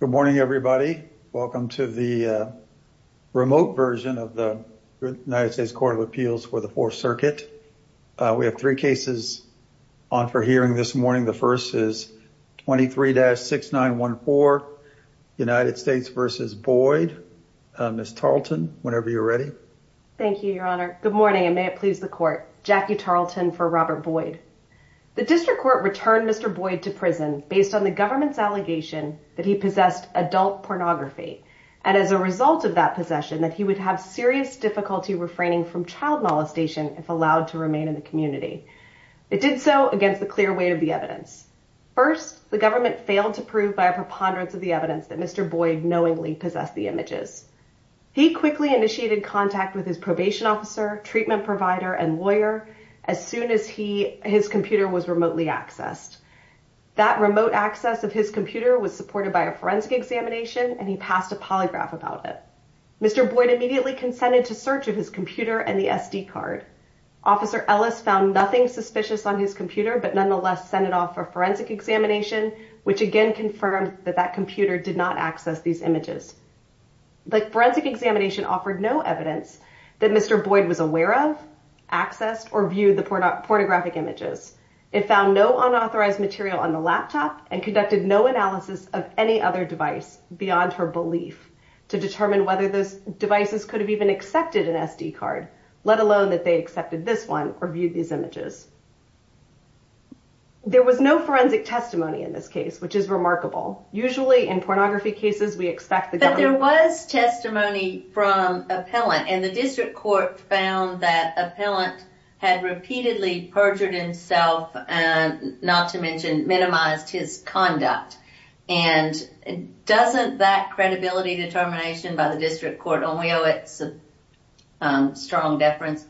Good morning, everybody. Welcome to the remote version of the United States Court of Appeals for the Fourth Circuit. We have three cases on for hearing this morning. The first is 23-6914, United States v. Boyd. Ms. Tarleton, whenever you're ready. Thank you, Your Honor. Good morning, and may it please the Court. Jackie Tarleton for Robert Boyd. Mr. Boyd was charged with the allegation that he possessed adult pornography, and as a result of that possession, that he would have serious difficulty refraining from child molestation if allowed to remain in the community. It did so against the clear weight of the evidence. First, the government failed to prove by a preponderance of the evidence that Mr. Boyd knowingly possessed the images. He quickly initiated contact with his probation officer, treatment provider, and lawyer, as soon as he, his computer was remotely accessed. That remote access of his computer allowed him to access the evidence in a way that would have been impossible for him to do without the help of a lawyer. His computer was supported by a forensic examination, and he passed a polygraph about it. Mr. Boyd immediately consented to search of his computer and the SD card. Officer Ellis found nothing suspicious on his computer, but nonetheless sent it off for forensic examination, which again confirmed that that computer did not access these images. The forensic examination offered no evidence that Mr. Boyd was aware of, accessed, or viewed the pornographic images. It found no unauthorized material on the laptop and conducted no analysis of any other device beyond her belief to determine whether those devices could have even accepted an SD card, let alone that they accepted this one or viewed these images. There was no forensic testimony in this case, which is remarkable. Usually in pornography cases, we expect that there was testimony from appellant and the district court found that appellant had repeatedly perjured himself and not to mention minimized his conduct. And doesn't that credibility determination by the district court only owe it some strong deference?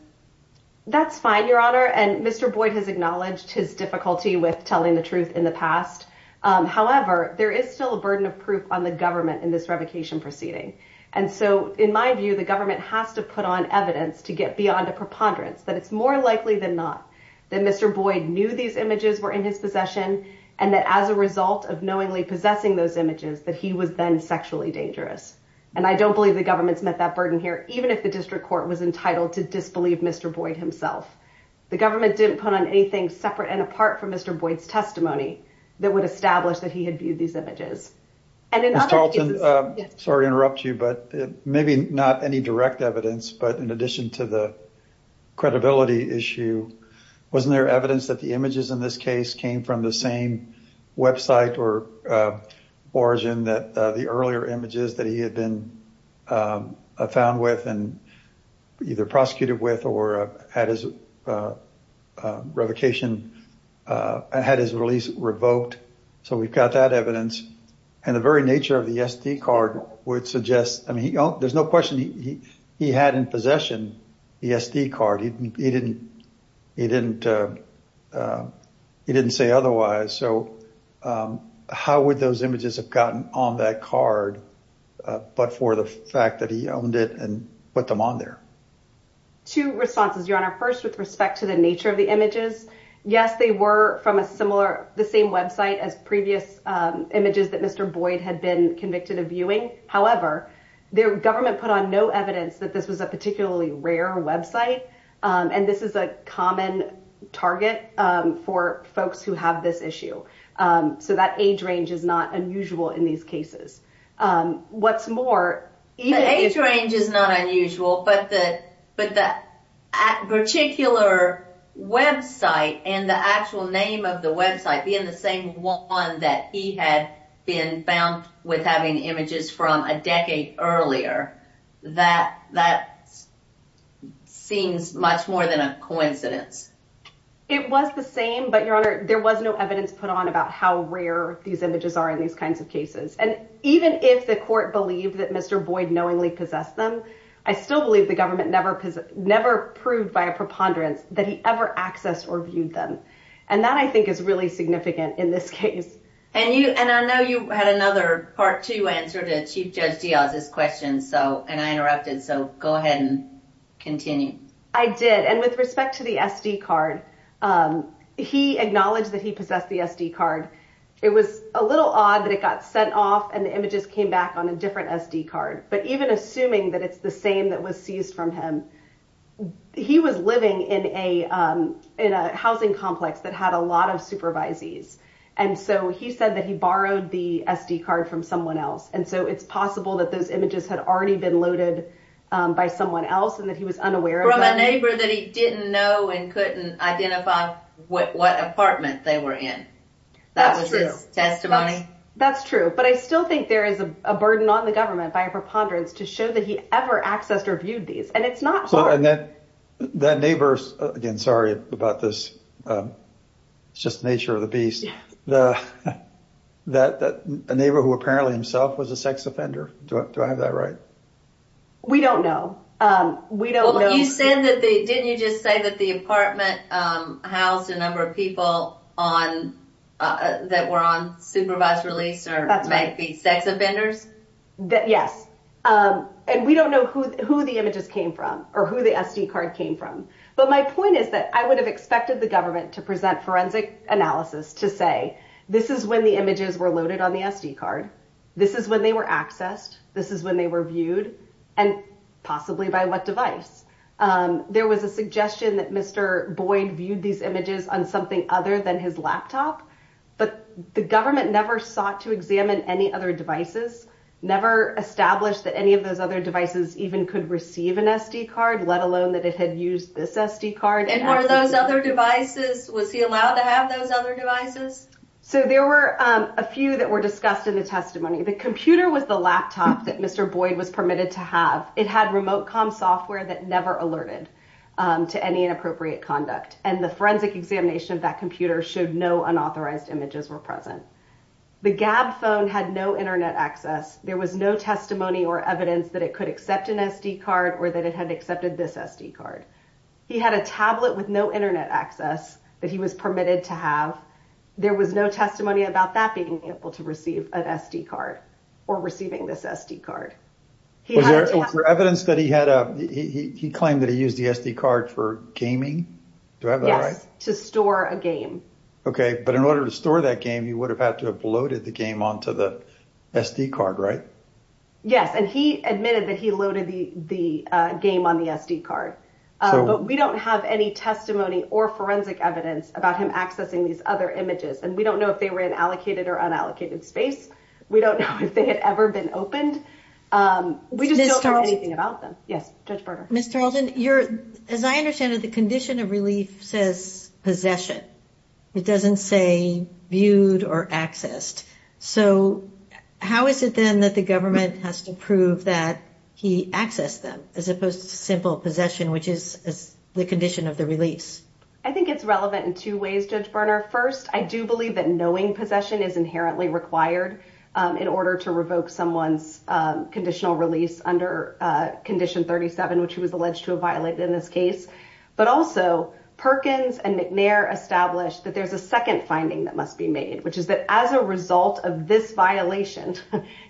That's fine, Your Honor. And Mr. Boyd has acknowledged his difficulty with telling the truth in the past. However, there is still a burden of proof on the government in this revocation proceeding. And so, in my view, the government has to put on evidence to get beyond a preponderance that it's more likely than not that Mr. Boyd knew these images were in his possession and that as a result of knowingly possessing those images that he was then sexually dangerous. And I don't believe the government's met that burden here, even if the district court was entitled to disbelieve Mr. Boyd himself. The government didn't put on anything separate and apart from Mr. Boyd's testimony that would establish that he had viewed these images. Mr. Tarleton, sorry to interrupt you, but maybe not any direct evidence, but in addition to the credibility issue, wasn't there evidence that the images in this case came from the same website or origin that the earlier images that he had been found with and either prosecuted with or had his release revoked? So we've got that evidence. And the very nature of the SD card would suggest, I mean, there's no question he had in possession the SD card. He didn't say otherwise. So how would those images have gotten on that card but for the fact that he owned it and put them on there? Two responses, Your Honor. First, with respect to the nature of the images. Yes, they were from the same website as previous images that Mr. Boyd had been convicted of viewing. However, the government put on no evidence that this was a particularly rare website. And this is a common target for folks who have this issue. So that age range is not unusual in these cases. What's more, the age range is not unusual, but the particular website and the actual name of the website being the same one that he had been found with having images from a decade earlier, that seems much more than a coincidence. It was the same, but Your Honor, there was no evidence put on about how rare these images are in these kinds of cases. And even if the court believed that Mr. Boyd knowingly possessed them, I still believe the government never proved by a preponderance that he ever accessed or viewed them. And that, I think, is really significant in this case. And I know you had another part two answer to Chief Judge Diaz's question, and I interrupted. So go ahead and continue. I did. And with respect to the SD card, he acknowledged that he possessed the SD card. It was a little odd that it got sent off and the images came back on a different SD card. But even assuming that it's the same that was seized from him, he was living in a housing complex that had a lot of supervisees. And so he said that he borrowed the SD card from someone else. And so it's possible that those images had already been loaded by someone else and that he was unaware of that. From a neighbor that he didn't know and couldn't identify what apartment they were in. That was his testimony. That's true. But I still think there is a burden on the government by a preponderance to show that he ever accessed or viewed these. And it's not hard. And that neighbor, again, sorry about this. It's just the nature of the beast. A neighbor who apparently himself was a sex offender. Do I have that right? We don't know. We don't know. Didn't you just say that the apartment housed a number of people that were on supervised release or might be sex offenders? Yes. And we don't know who the images came from or who the SD card came from. But my point is that I would have expected the government to present forensic analysis to say this is when the images were loaded on the SD card. This is when they were accessed. This is when they were viewed and possibly by what device. There was a suggestion that Mr. Boyd viewed these images on something other than his laptop. But the government never sought to examine any other devices, never established that any of those other devices even could receive an SD card, let alone that it had used this SD card. And one of those other devices. Was he allowed to have those other devices? So there were a few that were discussed in the testimony. The computer was the laptop that Mr. Boyd was permitted to have. It had remote com software that never alerted to any inappropriate conduct. And the forensic examination of that computer showed no unauthorized images were present. The gab phone had no Internet access. There was no testimony or evidence that it could accept an SD card or that it had accepted this SD card. He had a tablet with no Internet access that he was permitted to have. There was no testimony about that being able to receive an SD card or receiving this SD card. Was there evidence that he claimed that he used the SD card for gaming? Yes, to store a game. Okay. But in order to store that game, you would have had to have loaded the game onto the SD card, right? Yes. And he admitted that he loaded the game on the SD card, but we don't have any testimony or forensic evidence about him accessing these other images. And we don't know if they were in allocated or unallocated space. We don't know if they had ever been opened. We just don't know anything about them. Ms. Tarleton, as I understand it, the condition of relief says possession. It doesn't say viewed or accessed. So how is it then that the government has to prove that he accessed them as opposed to simple possession, which is the condition of the release? I think it's relevant in two ways, Judge Berner. First, I do believe that knowing possession is inherently required in order to revoke someone's conditional release under Condition 37, which he was alleged to have violated in this case. But also, Perkins and McNair established that there's a second finding that must be made, which is that as a result of this violation,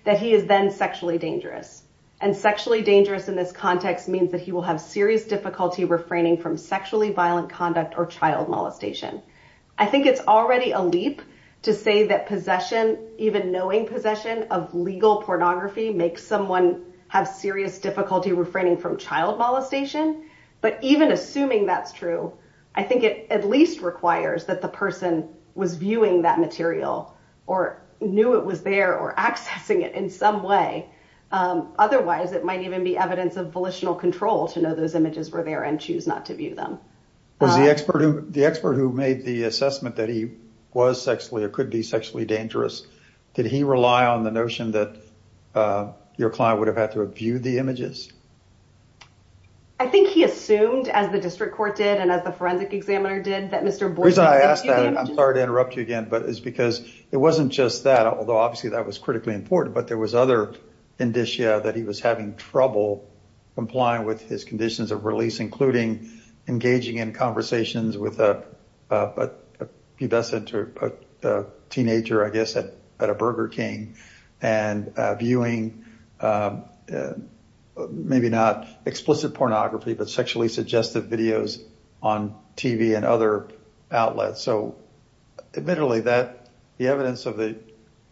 that he is then sexually dangerous. And sexually dangerous in this context means that he will have serious difficulty refraining from sexually violent conduct or child molestation. I think it's already a leap to say that possession, even knowing possession of legal pornography, makes someone have serious difficulty refraining from child molestation. But even assuming that's true, I think it at least requires that the person was viewing that material or knew it was there or accessing it in some way. Otherwise, it might even be evidence of volitional control to know those images were there and choose not to view them. The expert who made the assessment that he was sexually or could be sexually dangerous, did he rely on the notion that your client would have had to view the images? I think he assumed, as the district court did and as the forensic examiner did, that Mr. Borden... The reason I asked that, and I'm sorry to interrupt you again, but it's because it wasn't just that, although obviously that was critically important. But there was other indicia that he was having trouble complying with his conditions of release, including engaging in conversations with a pubescent teenager, I guess, at a Burger King. And viewing, maybe not explicit pornography, but sexually suggestive videos on TV and other outlets. So admittedly, the evidence of the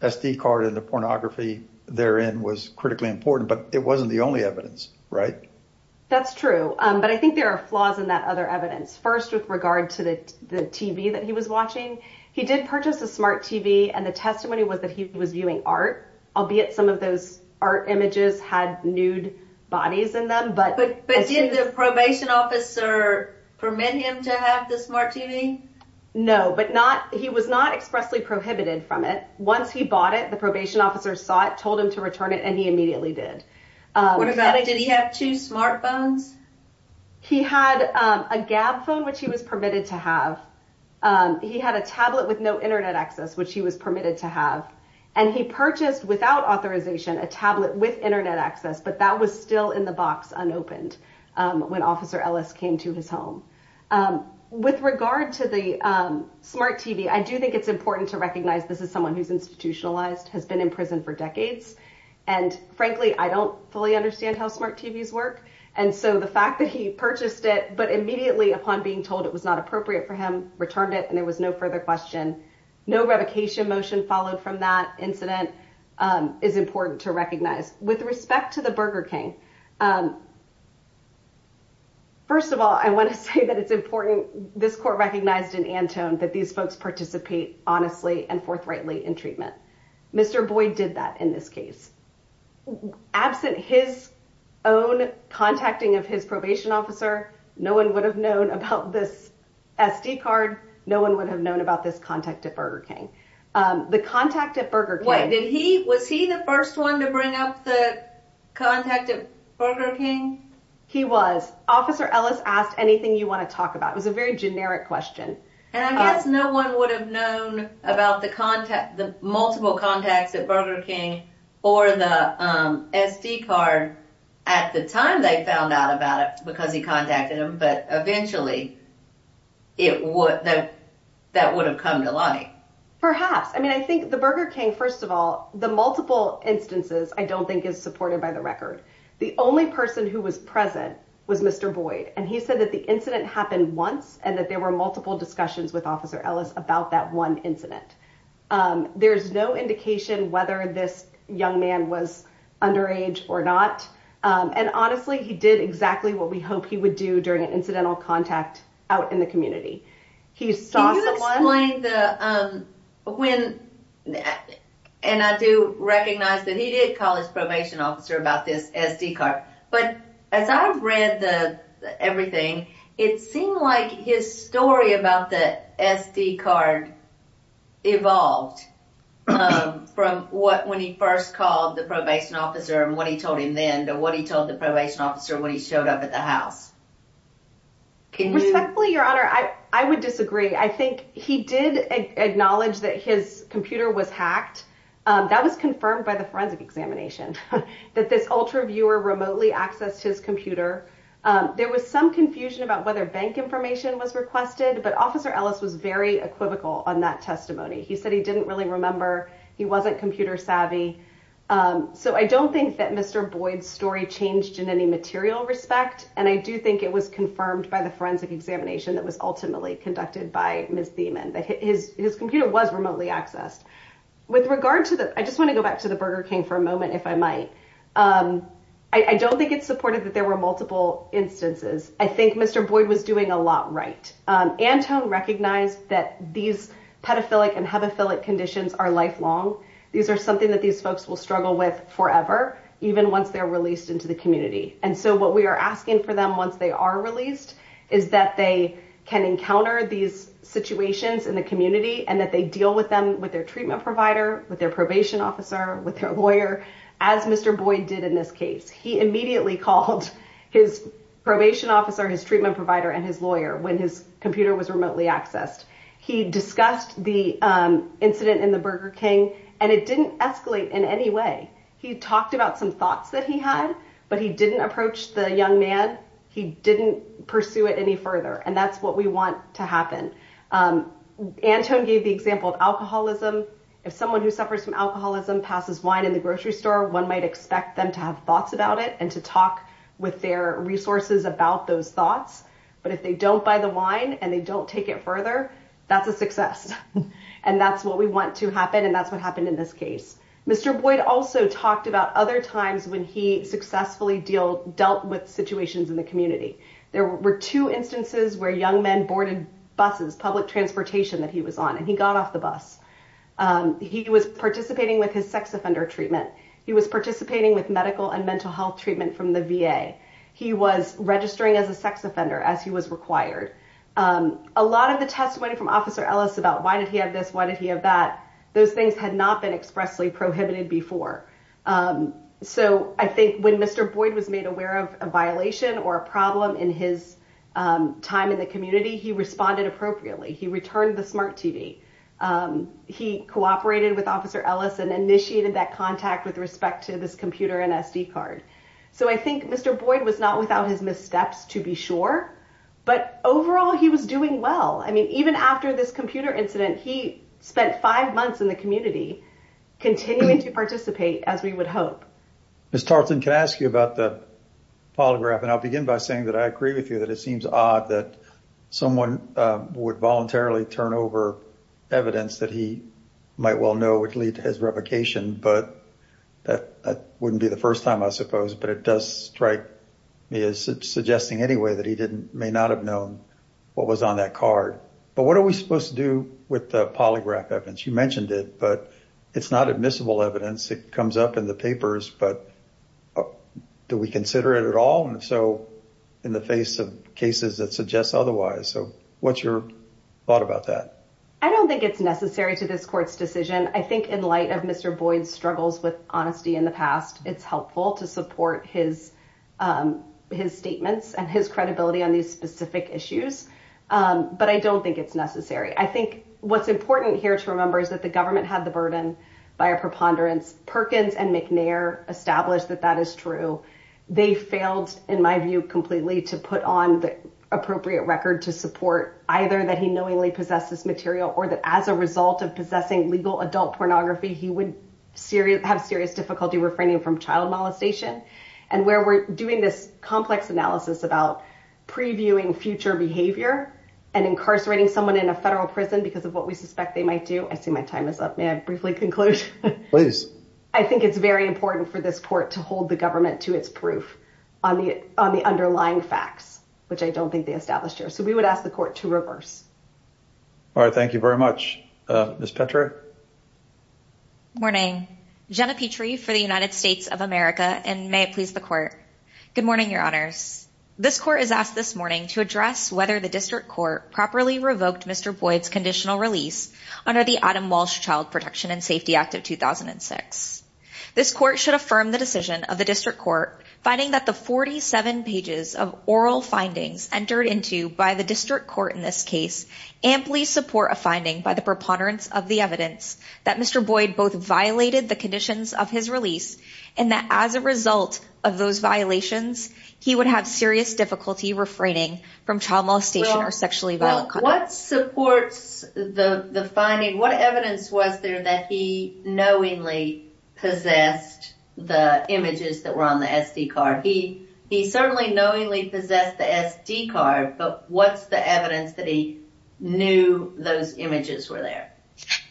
SD card and the pornography therein was critically important, but it wasn't the only evidence, right? That's true, but I think there are flaws in that other evidence. First, with regard to the TV that he was watching, he did purchase a smart TV and the testimony was that he was viewing art, albeit some of those art images had nude bodies in them. But did the probation officer permit him to have the smart TV? No, but he was not expressly prohibited from it. Once he bought it, the probation officer saw it, told him to return it, and he immediately did. Did he have two smartphones? He had a gab phone, which he was permitted to have. He had a tablet with no internet access, which he was permitted to have. And he purchased, without authorization, a tablet with internet access, but that was still in the box unopened when Officer Ellis came to his home. With regard to the smart TV, I do think it's important to recognize this is someone who's institutionalized, has been in prison for decades. And frankly, I don't fully understand how smart TVs work. And so the fact that he purchased it, but immediately upon being told it was not appropriate for him, returned it and there was no further question. No revocation motion followed from that incident is important to recognize. With respect to the Burger King, first of all, I want to say that it's important. This court recognized in Antone that these folks participate honestly and forthrightly in treatment. Mr. Boyd did that in this case. Absent his own contacting of his probation officer, no one would have known about this SD card. No one would have known about this contact at Burger King. The contact at Burger King... Was he the first one to bring up the contact at Burger King? He was. Officer Ellis asked anything you want to talk about. It was a very generic question. And I guess no one would have known about the multiple contacts at Burger King or the SD card at the time they found out about it because he contacted him. But eventually, that would have come to light. Perhaps. I mean, I think the Burger King, first of all, the multiple instances, I don't think is supported by the record. The only person who was present was Mr. Boyd. And he said that the incident happened once and that there were multiple discussions with Officer Ellis about that one incident. There's no indication whether this young man was underage or not. And honestly, he did exactly what we hope he would do during an incidental contact out in the community. Can you explain the... And I do recognize that he did call his probation officer about this SD card. But as I read everything, it seemed like his story about the SD card evolved from what when he first called the probation officer and what he told him then to what he told the probation officer when he showed up at the house. Respectfully, Your Honor, I would disagree. I think he did acknowledge that his computer was hacked. That was confirmed by the forensic examination that this ultra viewer remotely accessed his computer. There was some confusion about whether bank information was requested. But Officer Ellis was very equivocal on that testimony. He said he didn't really remember. He wasn't computer savvy. So I don't think that Mr. Boyd's story changed in any material respect. And I do think it was confirmed by the forensic examination that was ultimately conducted by Ms. Thiemann, that his computer was remotely accessed. With regard to that, I just want to go back to the Burger King for a moment, if I might. I don't think it's supported that there were multiple instances. I think Mr. Boyd was doing a lot right. Antone recognized that these pedophilic and hepaphilic conditions are lifelong. These are something that these folks will struggle with forever, even once they're released into the community. And so what we are asking for them once they are released is that they can encounter these situations in the community and that they deal with them with their treatment provider, with their probation officer, with their lawyer, as Mr. Boyd did in this case. He immediately called his probation officer, his treatment provider and his lawyer when his computer was remotely accessed. He discussed the incident in the Burger King and it didn't escalate in any way. He talked about some thoughts that he had, but he didn't approach the young man. He didn't pursue it any further. And that's what we want to happen. Antone gave the example of alcoholism. If someone who suffers from alcoholism passes wine in the grocery store, one might expect them to have thoughts about it and to talk with their resources about those thoughts. But if they don't buy the wine and they don't take it further, that's a success. And that's what we want to happen. And that's what happened in this case. Mr. Boyd also talked about other times when he successfully dealt with situations in the community. There were two instances where young men boarded buses, public transportation that he was on, and he got off the bus. He was participating with his sex offender treatment. He was participating with medical and mental health treatment from the VA. He was registering as a sex offender as he was required. A lot of the testimony from Officer Ellis about why did he have this, why did he have that, those things had not been expressly prohibited before. So I think when Mr. Boyd was made aware of a violation or a problem in his time in the community, he responded appropriately. He returned the smart TV. He cooperated with Officer Ellis and initiated that contact with respect to this computer and SD card. So I think Mr. Boyd was not without his missteps, to be sure. But overall, he was doing well. I mean, even after this computer incident, he spent five months in the community continuing to participate as we would hope. Ms. Tarleton, can I ask you about the polygraph? And I'll begin by saying that I agree with you that it seems odd that someone would voluntarily turn over evidence that he might well know would lead to his revocation. But that wouldn't be the first time, I suppose. But it does strike me as suggesting anyway that he may not have known what was on that card. But what are we supposed to do with the polygraph evidence? You mentioned it, but it's not admissible evidence. It comes up in the papers, but do we consider it at all? And so in the face of cases that suggest otherwise. So what's your thought about that? I don't think it's necessary to this court's decision. I think in light of Mr. Boyd's struggles with honesty in the past, it's helpful to support his statements and his credibility on these specific issues. But I don't think it's necessary. I think what's important here to remember is that the government had the burden by a preponderance. Perkins and McNair established that that is true. They failed, in my view, completely to put on the appropriate record to support either that he knowingly possesses material or that as a result of possessing legal adult pornography, he would have serious difficulty refraining from child molestation. And where we're doing this complex analysis about previewing future behavior and incarcerating someone in a federal prison because of what we suspect they might do. I see my time is up. May I briefly conclude? I think it's very important for this court to hold the government to its proof on the underlying facts, which I don't think they established here. I think it's important for this court to reverse. All right. Thank you very much. Ms. Petra. Morning. Jenna Petrie for the United States of America. And may it please the court. Good morning, your honors. This court is asked this morning to address whether the district court properly revoked Mr. Boyd's conditional release under the Adam Walsh Child Protection and Safety Act of 2006. This court should affirm the decision of the district court, finding that the 47 pages of oral findings entered into by the district court in this case amply support a finding by the preponderance of the evidence that Mr. Boyd both violated the conditions of his release and that as a result of those violations, he would have serious difficulty refraining from child molestation or sexually violent conduct. What supports the finding? What evidence was there that he knowingly possessed the images that were on the SD card? He certainly knowingly possessed the SD card, but what's the evidence that he knew those images were there?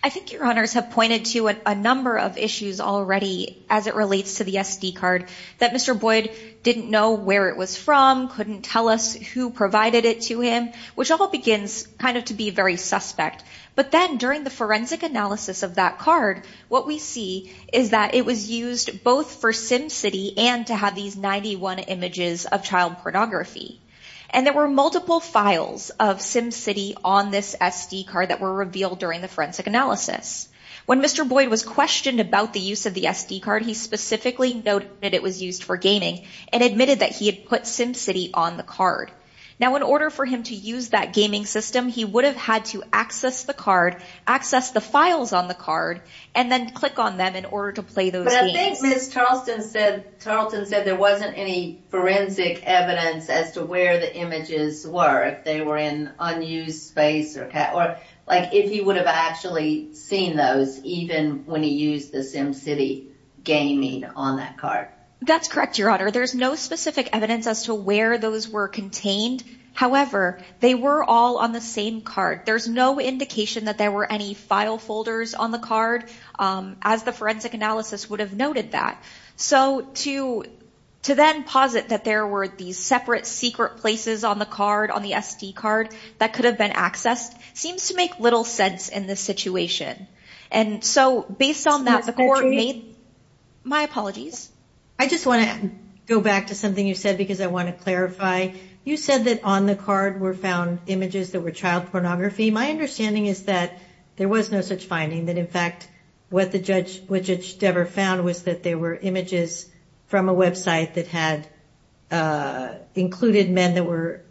I think your honors have pointed to a number of issues already as it relates to the SD card that Mr. Boyd didn't know where it was from, couldn't tell us who provided it to him, which all begins kind of to be very suspect. But then during the forensic analysis of that card, what we see is that it was used both for SimCity and to have these 91 images of child pornography. And there were multiple files of SimCity on this SD card that were revealed during the forensic analysis. When Mr. Boyd was questioned about the use of the SD card, he specifically noted that it was used for gaming and admitted that he had put SimCity on the card. Now in order for him to use that gaming system, he would have had to access the card, access the files on the card, and then click on them in order to play those games. But I think Ms. Tarleton said there wasn't any forensic evidence as to where the images were, if they were in unused space, or like if he would have actually seen those even when he used the SimCity gaming on that card. That's correct, your honor. There's no specific evidence as to where those were contained. However, they were all on the same card. There's no indication that there were any file folders on the card, as the forensic analysis would have noted that. So to then posit that there were these separate secret places on the card, on the SD card, that could have been accessed seems to make little sense in this situation. And so based on that, the court made... My apologies. I just want to go back to something you said because I want to clarify. You said that on the card were found images that were child pornography. My understanding is that there was no such finding, that in fact what Judge Devere found was that there were images from a website that had included men that were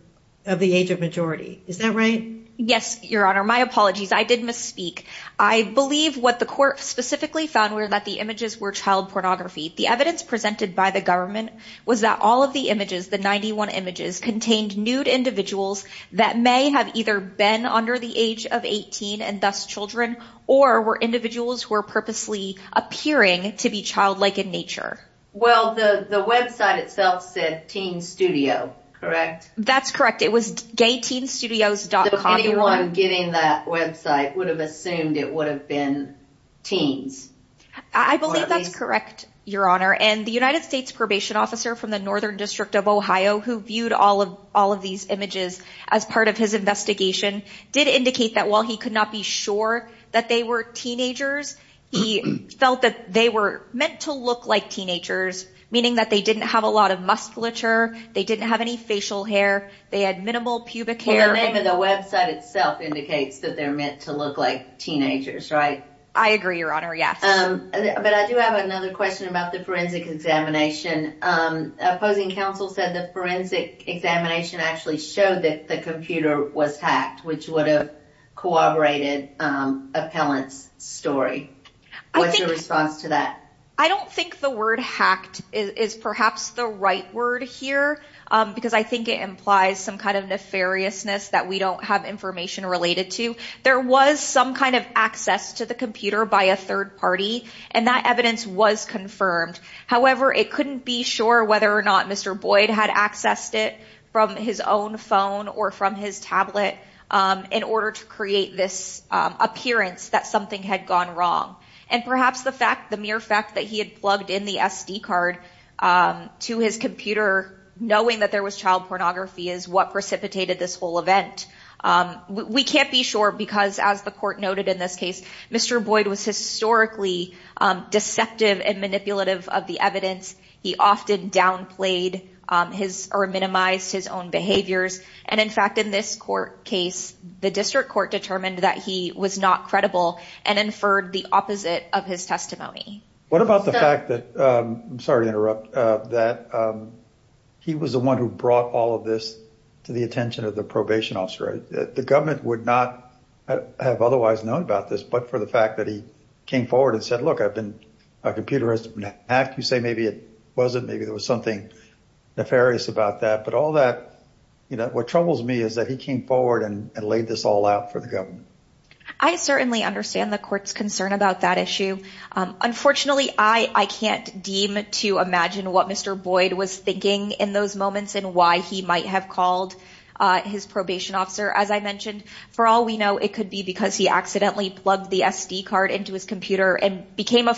of the age of majority. Is that right? Yes, your honor. My apologies, I did misspeak. I believe what the court specifically found were that the images were child pornography. The evidence presented by the government was that all of the images, the 91 images, contained nude individuals that may have either been under the age of 18 and thus children, or were individuals who were purposely appearing to be childlike in nature. Well, the website itself said teen studio, correct? That's correct. It was gayteenstudios.com. So anyone getting that website would have assumed it would have been teens. I believe that's correct, your honor. And the United States Probation Officer from the Northern District of Ohio, who viewed all of these images as part of his investigation, did indicate that while he could not be sure that they were teenagers, he felt that they were meant to look like teenagers, meaning that they didn't have a lot of musculature, they didn't have any facial hair, they had minimal pubic hair. The name of the website itself indicates that they're meant to look like teenagers, right? I agree, your honor, yes. But I do have another question about the forensic examination. Opposing counsel said the forensic examination actually showed that the computer was hacked, which would have corroborated Appellant's story. What's your response to that? I don't think the word hacked is perhaps the right word here, because I think it implies some kind of nefariousness that we don't have information related to. There was some kind of access to the computer by a third party, and that evidence was confirmed. However, it couldn't be sure whether or not Mr. Boyd had accessed it from his own phone or from his tablet in order to create this appearance that something had gone wrong. And perhaps the mere fact that he had plugged in the SD card to his computer, knowing that there was child pornography, is what precipitated this whole event. We can't be sure, because as the court noted in this case, Mr. Boyd was historically deceptive and manipulative of the evidence. He often downplayed or minimized his own behaviors. And in fact, in this court case, the district court determined that he was not credible and inferred the opposite of his testimony. What about the fact that, I'm sorry to interrupt, that he was the one who brought all of this to the attention of the probation officer? The government would not have otherwise known about this, but for the fact that he came forward with a computerized act, you say maybe it wasn't, maybe there was something nefarious about that. But all that, you know, what troubles me is that he came forward and laid this all out for the government. I certainly understand the court's concern about that issue. Unfortunately, I can't deem to imagine what Mr. Boyd was thinking in those moments and why he might have called his probation officer. As I mentioned, for all we know, it could be because he accidentally plugged the SD card into his computer and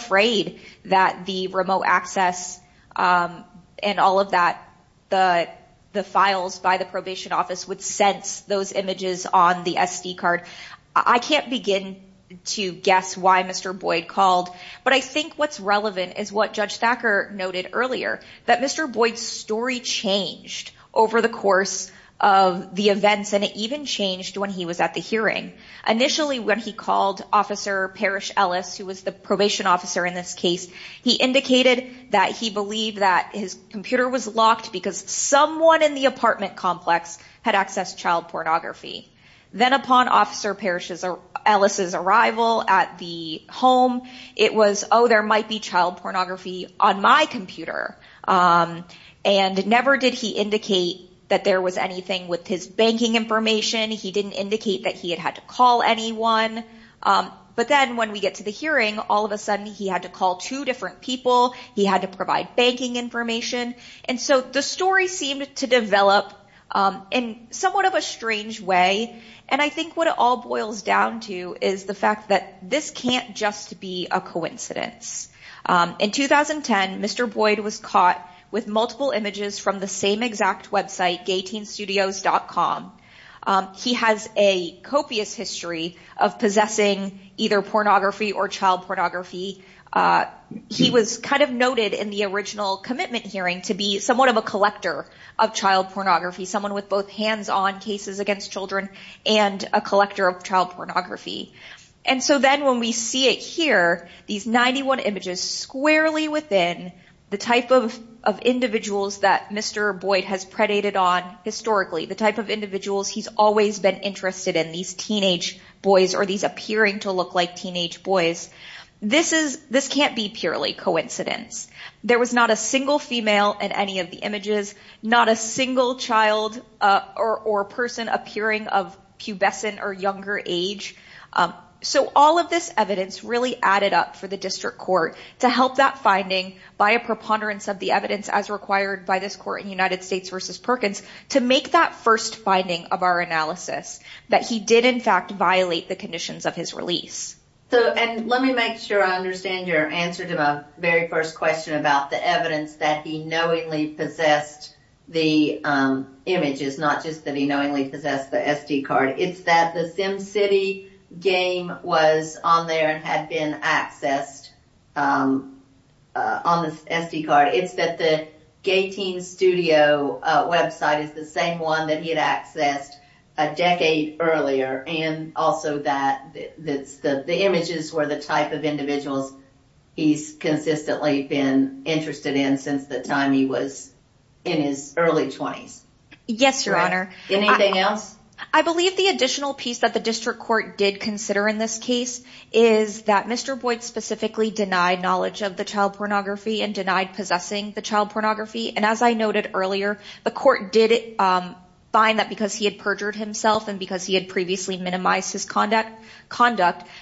prayed that the remote access and all of that, the files by the probation office would sense those images on the SD card. I can't begin to guess why Mr. Boyd called, but I think what's relevant is what Judge Thacker noted earlier, that Mr. Boyd's story changed over the course of the events and it even changed when he was at the hearing. Initially, when he called Officer Parrish Ellis, who was the probation officer in this case, he indicated that he believed that his computer was locked because someone in the apartment complex had accessed child pornography. Then upon Officer Parrish Ellis' arrival at the home, it was, oh, there might be child pornography on my computer. And never did he indicate that there was anything with his banking information. He didn't indicate that he had had to call anyone. But then when we get to the hearing, all of a sudden he had to call two different people. He had to provide banking information. And so the story seemed to develop in somewhat of a strange way. And I think what it all boils down to is the fact that this can't just be a coincidence. In 2010, Mr. Boyd was caught with multiple images from the same exact website, GayTeenStudios.com. He has a copious history of possessing either pornography or child pornography. He was kind of noted in the original commitment hearing to be somewhat of a collector of child pornography, someone with both hands-on cases against children and a collector of child pornography. And so then when we see it here, these 91 images squarely within the type of individuals that Mr. Boyd has predated on historically, the type of individuals he's always been interested in, these teenage boys or these appearing to look like teenage boys, this can't be purely coincidence. There was not a single female in any of the images, not a single child or person appearing of pubescent or younger age. So all of this evidence really added up for the district court to help that finding by a preponderance of the evidence as required by this court in United States v. Perkins to make that first finding of our analysis that he did in fact violate the conditions of his release. And let me make sure I understand your answer to my very first question about the evidence that he knowingly possessed the images, not just that he knowingly possessed the SD card. It's that the Sim City game was on there and had been accessed on the SD card. It's that the Gay Teen Studio website is the same one that he had accessed a decade earlier and also that the images were the type of individuals he's consistently been interested in since the time he was in his early 20s. Yes, Your Honor. Anything else? I believe the additional piece that the district court did consider in this case is that Mr. Boyd specifically denied knowledge of the child pornography and denied possessing the child pornography. And as I noted earlier, the court did find that because he had perjured himself and because he had previously minimized his conduct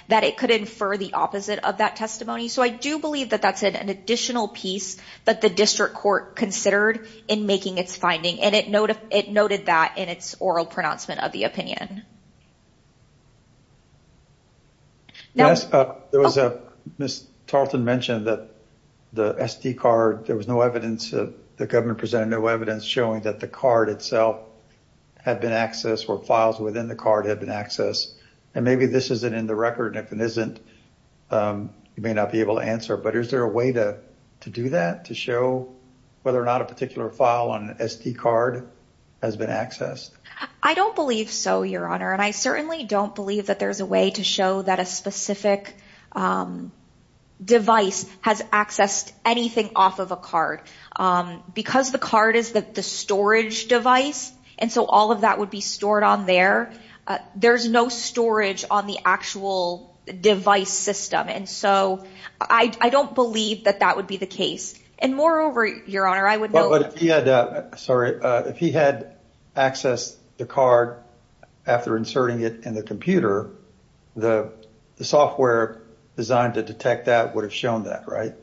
that it could infer the opposite of that testimony. So I do believe that that's an additional piece that the district court considered in making its finding and it noted that in its oral pronouncement of the opinion. There was a... Ms. Tarleton mentioned that the SD card, there was no evidence that the government presented no evidence showing that the card itself had been accessed or files within the card had been accessed. And maybe this isn't in the record and if it isn't, you may not be able to answer. But is there a way to do that to show whether or not a particular file on an SD card has been accessed, Your Honor? And I certainly don't believe that there's a way to show that a specific device has accessed anything off of a card. Because the card is the storage device and so all of that would be stored on there. There's no storage on the actual device system. And so I don't believe that that would be the case. And moreover, Your Honor, I would know... Sorry, if he had accessed the card after inserting it in the computer, the software designed to detect that would have shown that, right?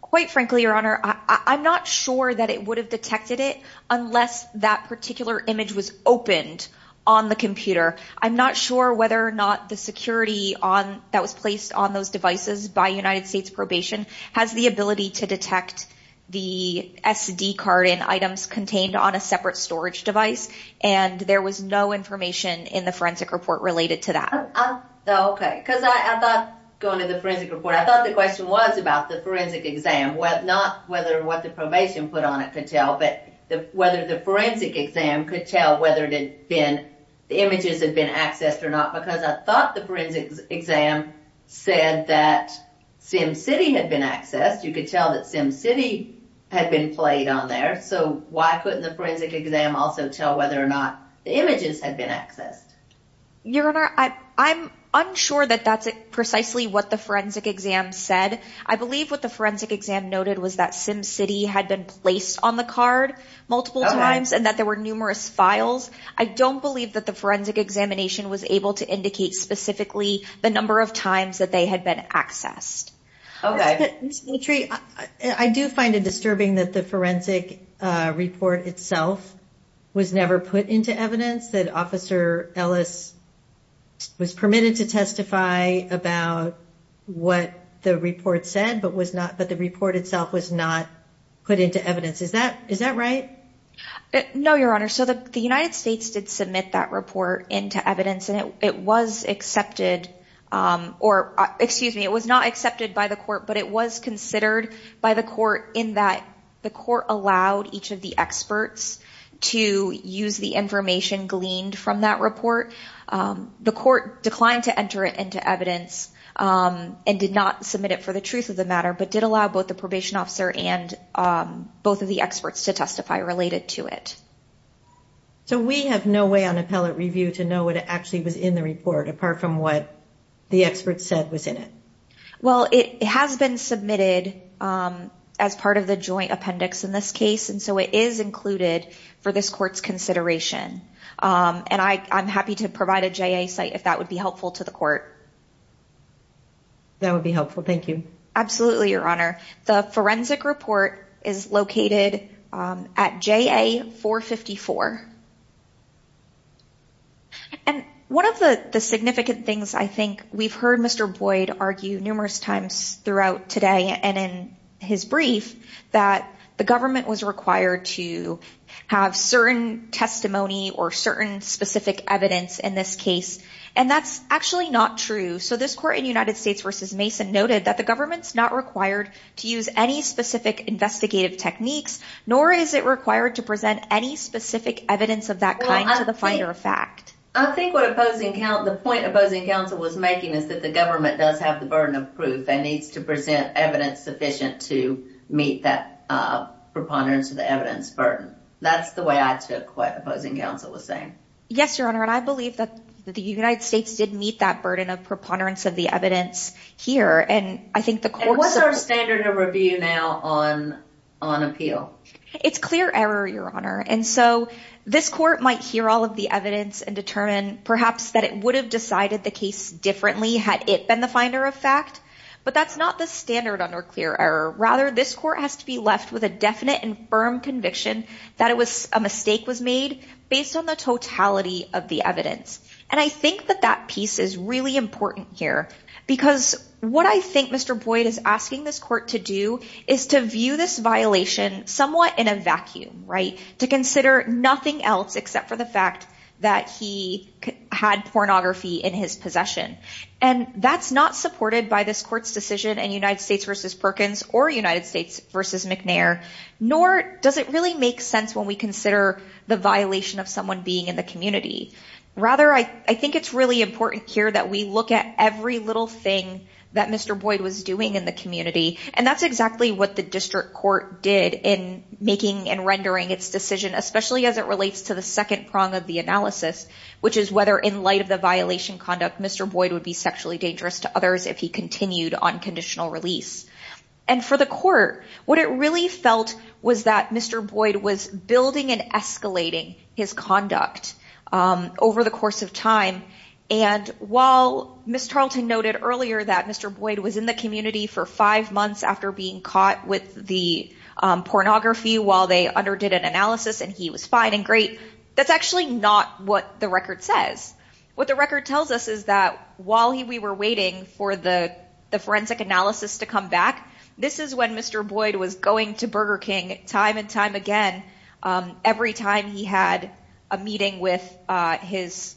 Quite frankly, Your Honor, I'm not sure that it would have detected it unless that particular image was opened on the computer. I'm not sure whether or not the security that was placed on those devices by United States Probation has the ability to detect the SD card and items contained on a separate storage device. And there was no information in the forensic report related to that. Okay. Because I thought, going to the forensic report, I thought the question was about the forensic exam, not whether what the probation put on it could tell, but whether the forensic exam could tell whether the images had been accessed or not. Because I thought the forensic exam said that SimCity had been accessed. You could tell that SimCity had been played on there. So why couldn't the forensic exam also tell whether or not the images had been accessed? Your Honor, I'm unsure that that's precisely what the forensic exam said. I believe what the forensic exam noted was that SimCity had been placed on the card multiple times and that there were numerous files. I don't believe that the forensic examination was able to indicate specifically the number of times that they had been accessed. Okay. Ms. Mitri, I do find it disturbing that the forensic report itself was never put into evidence, that Officer Ellis was permitted to testify about what the report said, but the report itself was not put into evidence. Is that right? No, Your Honor. So the United States did submit that report into evidence and it was accepted, or excuse me, it was not accepted by the court, but it was considered by the court in that the court allowed each of the experts to use the information gleaned from that report. The court declined to enter it into evidence and did not submit it for the truth of the matter, but did allow both the probation officer and both of the experts to testify related to it. So we have no way on appellate review to know what actually was in the report apart from what the experts said was in it? Well, it has been submitted as part of the joint appendix in this case, and so it is included for this court's consideration, and I'm happy to provide a JA site if that would be helpful to the court. That would be helpful. Thank you. Absolutely, Your Honor. The forensic report is located at JA 454. And one of the significant things, I think, we've heard Mr. Boyd argue numerous times throughout today and in his brief that the government was required to have certain testimony or certain specific evidence in this case, and that's actually not true. So this court in United States v. Mason noted that the government is not required to use any specific investigative techniques, nor is it required to present any specific evidence of that kind to the finder of fact. I think the point opposing counsel was making is that the government does have the burden of proof and needs to present evidence sufficient to meet that preponderance of the evidence burden. That's the way I took what opposing counsel was saying. Yes, Your Honor, and I believe that the United States did meet that burden of preponderance of the evidence here, and I think the court... And what's our standard of review now on appeal? It's clear error, Your Honor, and so this court might hear all of the evidence and determine perhaps that it would have decided the case differently had it been the finder of fact, but that's not the standard under clear error. Rather, this court has to be left with a definite and firm conviction that a mistake was made based on the totality of the evidence. And I think that that piece is really important here because what I think Mr. Boyd is asking this court to do is to view this violation somewhat in a vacuum, right? To consider nothing else except for the fact that he had pornography in his possession. And that's not supported by this court's decision in United States v. Perkins or United States v. McNair, nor does it really make sense when we consider the violation of someone being in the community. Rather, I think it's really important here that we look at every little thing that Mr. Boyd was doing in the community, and that's exactly what the district court did in making and rendering its decision, especially as it relates to the second prong of the analysis, which is whether in light of the violation conduct, Mr. Boyd would be sexually dangerous to others if he continued unconditional release. And for the court, what it really felt was that Mr. Boyd was building and escalating his conduct over the course of time, and while Ms. Tarleton noted earlier that Mr. Boyd was in the community for five months after being caught with the pornography while they underdid an analysis and he was fine and great, that's actually not what the record says. What the record tells us is that while we were waiting for the forensic analysis to come back, this is when Mr. Boyd was going to Burger King time and time again every time he had a meeting with his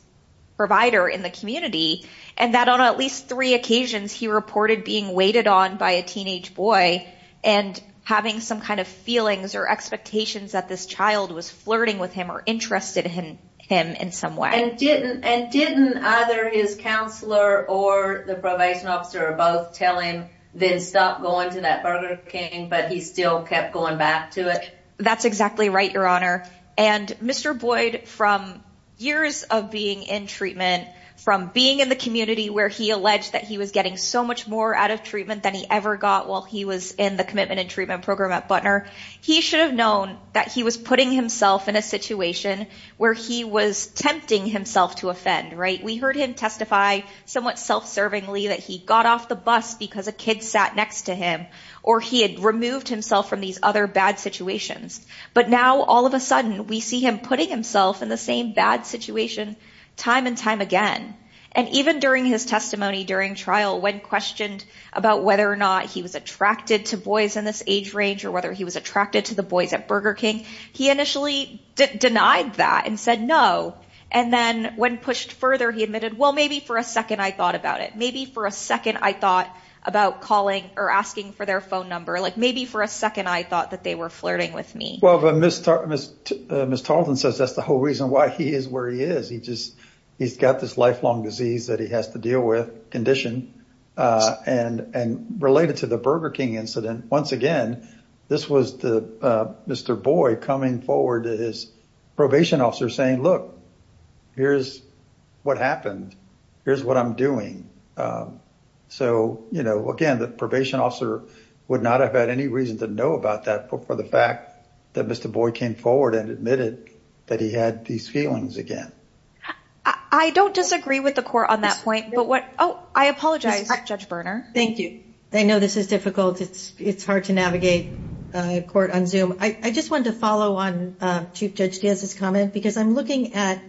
provider in the community, and that on at least three occasions he reported being waited on by a teenage boy and having some kind of feelings or expectations that this child was flirting with him or interested in him in some way. And didn't either his counselor or the probation officer or both tell him then stop going to that Burger King but he still kept going back to it? That's exactly right, Your Honor. And Mr. Boyd from years of being in treatment, from being in the community where he alleged that he was getting so much more out of treatment than he ever got while he was in the commitment and treatment program at Butner, he should have known that he was putting himself in a situation where he was attempting himself to offend, right? We heard him testify somewhat self-servingly that he got off the bus because a kid sat next to him or he had removed himself from these other bad situations. But now, all of a sudden, we see him putting himself in the same bad situation time and time again. And even during his testimony during trial when questioned about whether or not he was attracted to boys in this age range or whether he was attracted to the boys at Burger King, he initially denied that and said no. And then, when pushed further, he admitted, well, maybe for a second I thought about it. Maybe for a second I thought about calling or asking for their phone number. Like, maybe for a second I thought that they were flirting with me. Well, but Ms. Tarleton says that's the whole reason why he is where he is. He just, he's got this lifelong disease that he has to deal with, condition, and related to the Burger King incident, once again, this was the, Mr. Boy coming forward to his probation officer saying, here's what happened. Here's what I'm doing. you know, again, the probation officer would not have had any reason to know about that for the fact that Mr. Boy came forward and admitted that he had these feelings again. I don't disagree with the court on that point, but what, I apologize, Judge Berner. Thank you. I know this is difficult. It's hard to navigate court on Zoom. I just wanted to follow on Chief Judge Diaz's comment because I'm looking at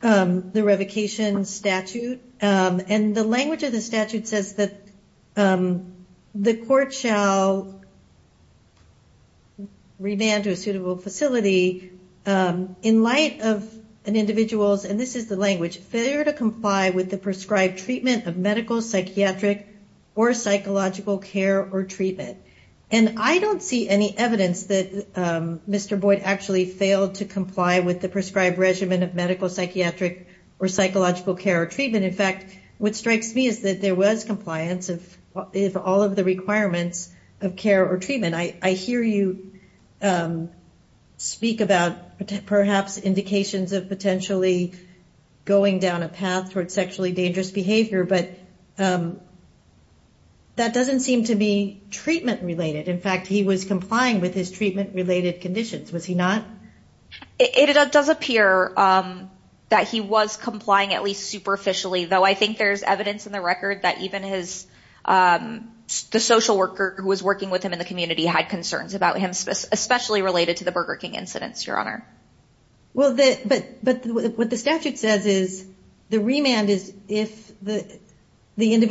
the revocation statute and the language of the statute says that the court shall remand to a suitable facility in light of an individual's, and this is the language, failure to comply with the prescribed treatment of medical, or psychological care or treatment. And I don't see any evidence that Mr. Boy actually failed to comply with the prescribed regimen of medical, or psychological care or treatment. In fact, what strikes me is that there was compliance of all of the requirements of care or treatment. I hear you speak about perhaps indications of potentially going down a path towards sexually dangerous behavior, but that doesn't seem to be treatment related. In fact, he was complying with his treatment related conditions. Was he not? It does appear that he was complying at least superficially, though I think there's evidence in the record that even the social worker who was working with him in the community had concerns about him, especially related to the Burger King incidents, Your Honor. Well, what the statute says is the remand is if the remand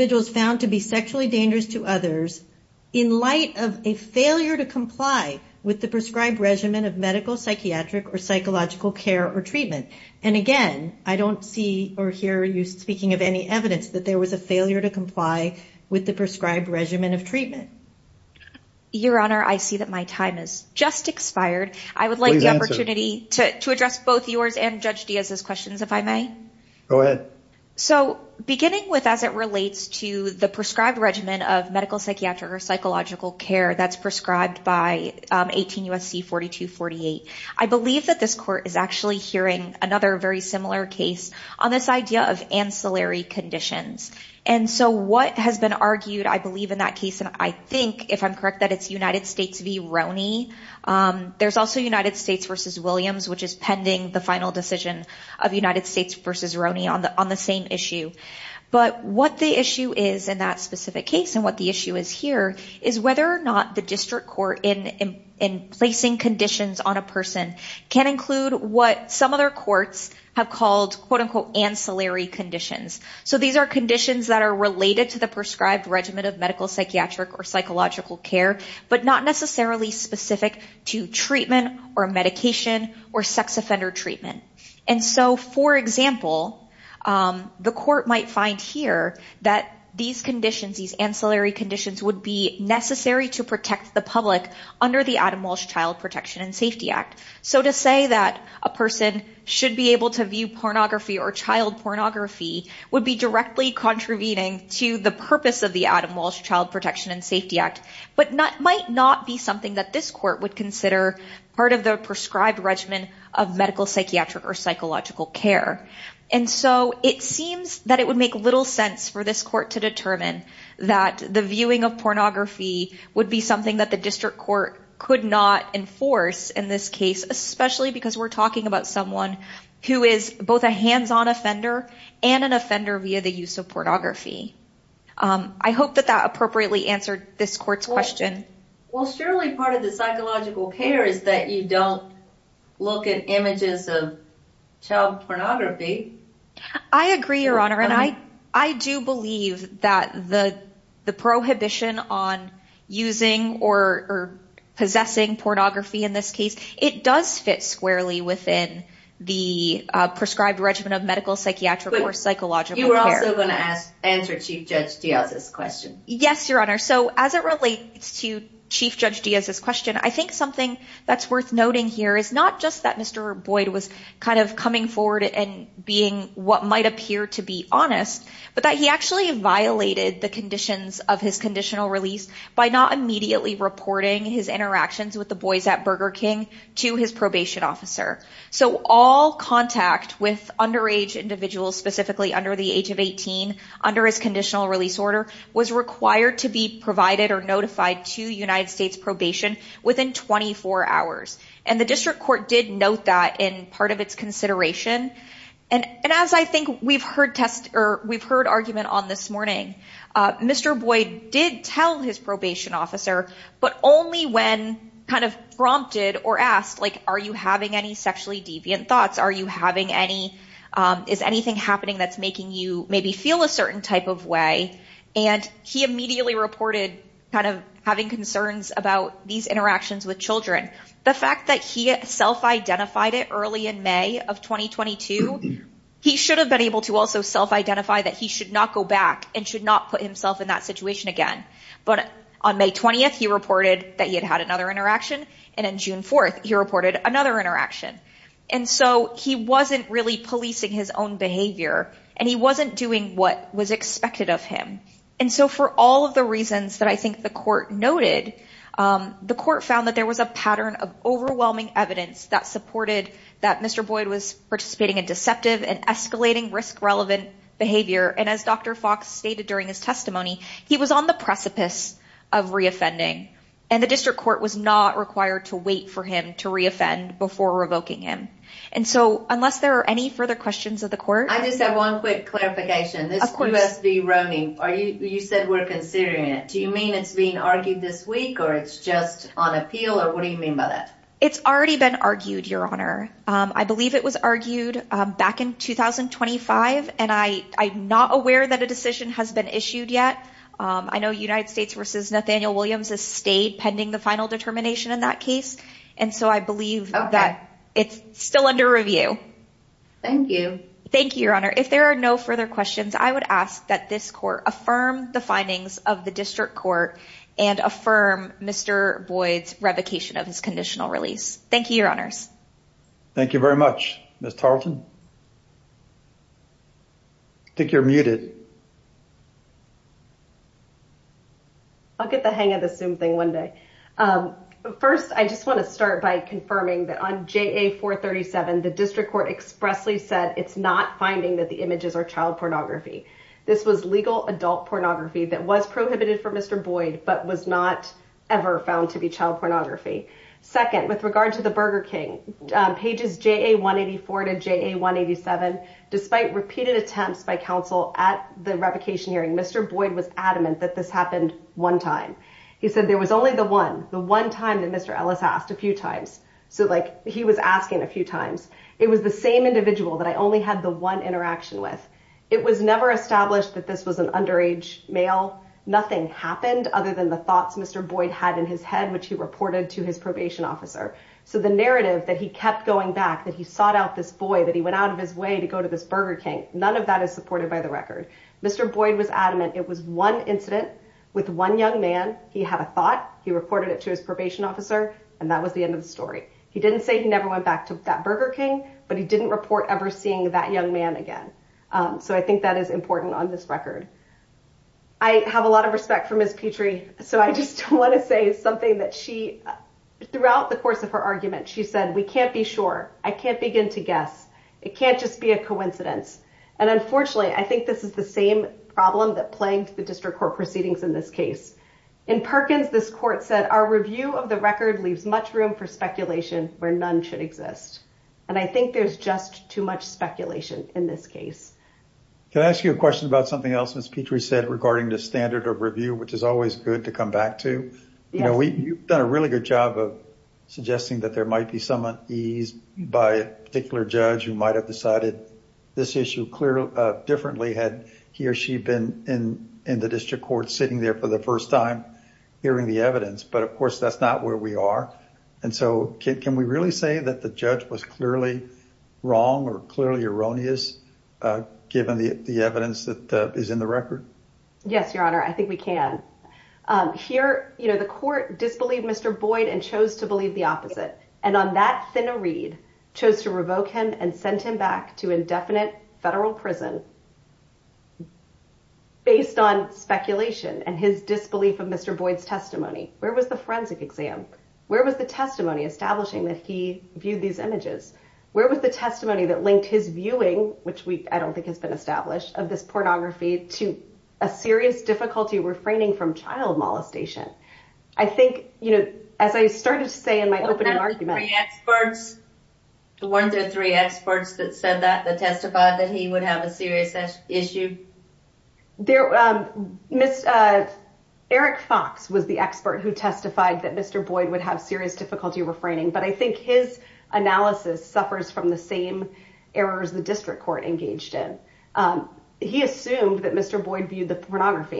compliant with the prescribed regimen of medical, psychiatric, or psychological care or treatment. And again, I don't see or hear you speaking of any evidence that there was a failure to comply with the prescribed regimen of treatment. Your Honor, I see that my time has just expired. I would like to take the opportunity to address both yours and Judge Diaz's questions, if I may. Go ahead. So beginning with as it relates to the prescribed regimen of medical, or psychological care that's prescribed by 18 U.S.C. 4248, I believe that this Court is actually hearing another very similar case on this idea of ancillary conditions. And so what has been argued, I believe, in that case, and I think, if I'm correct, that it's United States v. There's also United States v. which is pending the final decision of United States v. Roney on the same issue. But what the issue is in that specific case and what the issue is here is whether or not the District Court in placing conditions on a person can include what some other courts have called quote-unquote ancillary conditions. So these are conditions that are related to the prescribed regimen of medical, or psychological care, but not necessarily specific to treatment or medication or sex offender treatment. And so, for example, the court might find here that these conditions, these ancillary conditions, would be necessary to protect the public under the Adam Walsh Child Protection and Safety Act. So to say that a person should be able to view pornography or child pornography would be directly contravening to the purpose of the Adam Walsh Child Protection and Safety Act, but might not be something that this court would consider part of the prescribed regimen of medical, or psychological care. And so, it seems that it would make little sense for this court to determine that the viewing of pornography would be something that the district court could not enforce in this case, especially because we're talking about someone who is both a hands-on offender and an offender via the use of pornography. I hope that that appropriately answered this court's question. surely part of the psychological care is that you don't look at images of child pornography. I agree, Your Honor, and I do believe that the prohibition on using or possessing pornography in this case, it does fit squarely within the prescribed regimen of medical, or psychological care. You were also going to answer Chief Judge Diaz's question. Yes, Your Honor, so as it relates to Chief Judge Diaz's question, I think something that's worth noting here is not just that Mr. Boyd was notified to his probation officer. So all contact with underage individuals, specifically under the age of 18, under his conditional release order, was required to be provided or notified to United States probation within 24 hours. And the district court did note that in part of its consideration. And as I think we've heard argument on this morning, Mr. Boyd did tell his officer, but only when prompted or asked, are you having any sexually deviant thoughts? Is anything happening that's making you maybe feel a certain type of way? And he immediately reported having concerns about these issues. he should have been able to also self identify that he should not go back and should not put himself in that situation again. But on May 20th, he reported that he had had another interaction. And on June 4th, he reported another interaction. And so he wasn't really policing his own behavior, and he wasn't doing what was expected of him. And so for all of the reasons that I think the court noted, the court found that there was a pattern of overwhelming evidence that supported that Mr. Boyd was participating in deceptive and escalating risk-relevant behavior. And as Dr. Fox stated during his testimony, he was on the precipice of reoffending, and the district court was not required to wait for him to reoffend before revoking him. And so unless there are any further questions of the court... I just have one quick clarification. Of course. This U.S. v. Nathaniel Williams is still pending the final determination in that case, and so I believe that it's still under review. Thank you. Thank you, If there are no further questions, I would ask that this court affirm the findings of the district court and affirm Mr. Boyd's revocation of his image. I think you're muted. I'll get the hang of the Zoom thing one day. First, I just want to start by confirming that on JA-437, the district court expressly said it's not finding that the images are child pornography. This was legal adult pornography that was prohibited for Mr. Boyd, but was not ever found to be child pornography. Second, with regard to the Burger King, pages JA-184 to JA-187, repeated attempts by counsel at the revocation hearing, Mr. Boyd was adamant that this happened one time. He said there was only the one incident with one young man. didn't say he never went back to that Burger King, but he didn't report ever seeing that young man again. So I think that is important on this record. Third, I have a lot of respect for Ms. Petrie, so I just want to say something that she, throughout the course of her argument, she said, we can't be sure. I can't begin to guess. It can't just be a coincidence. And unfortunately, I think this is the same problem that plagued the district court proceedings in this case. In Perkins, this court said, our review of the record leaves much room for speculation where none should exist. And I think there's just too much speculation in this case. Can I ask you a question about something else Ms. Petrie said regarding the standard of review, which is always good to come back to? You know, you've done a really good job of that there might be some ease by a judge to that the judge was clearly wrong or clearly erroneous given the evidence that is in the record? Yes, your honor, I think we can. the court disbelieved Mr. Boyd and chose to revoke him and sent him back to indefinite federal prison based on speculation and his disbelief of Mr. Boyd's testimony. Where was the forensic exam? Where was the testimony establishing that he viewed these images? Where was the testimony that linked his viewing, which I don't think has been established, of this pornography to a serious difficulty refraining from child molestation? I think, you know, as I started to say in my opening argument... The one through three experts that said that, that he would have a serious issue? Eric Fox was the expert who testified that Mr. Boyd would have serious difficulty refraining, but I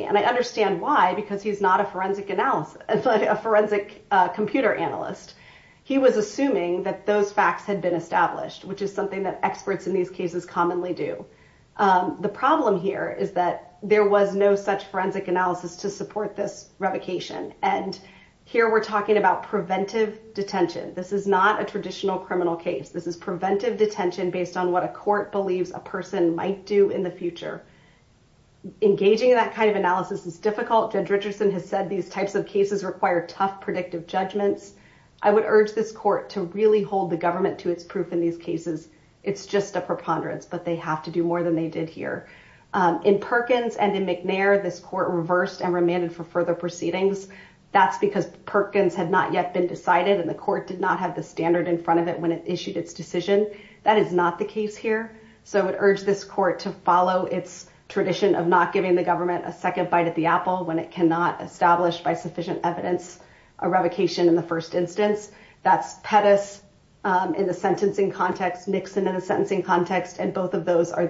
And I understand why, because he's not a forensic analyst, a forensic computer analyst. He was assuming that those facts had been established, which is something that experts in these cases commonly do. The problem here is that there was no such forensic analysis to support this revocation, and here we're talking about preventive detention. This is not a traditional criminal case. This is preventive detention based on what a court believes a person might do in the Engaging in that kind of analysis is difficult. Judge Richardson has said these types of cases require tough evidence, and I would urge this court to follow its tradition of not giving the government a second bite at the apple when it cannot establish by sufficient evidence a revocation in the first instance. That's Pettis in the sentencing context, Nixon in the sentencing context, and both of those are the same case. I would urge this court to follow its tradition of not giving the government a apple when by sufficient evidence a revocation in the first instance. I would urge this court to follow its tradition government a second bite at the apple when it cannot establish the first instance. Thank you. Thank you.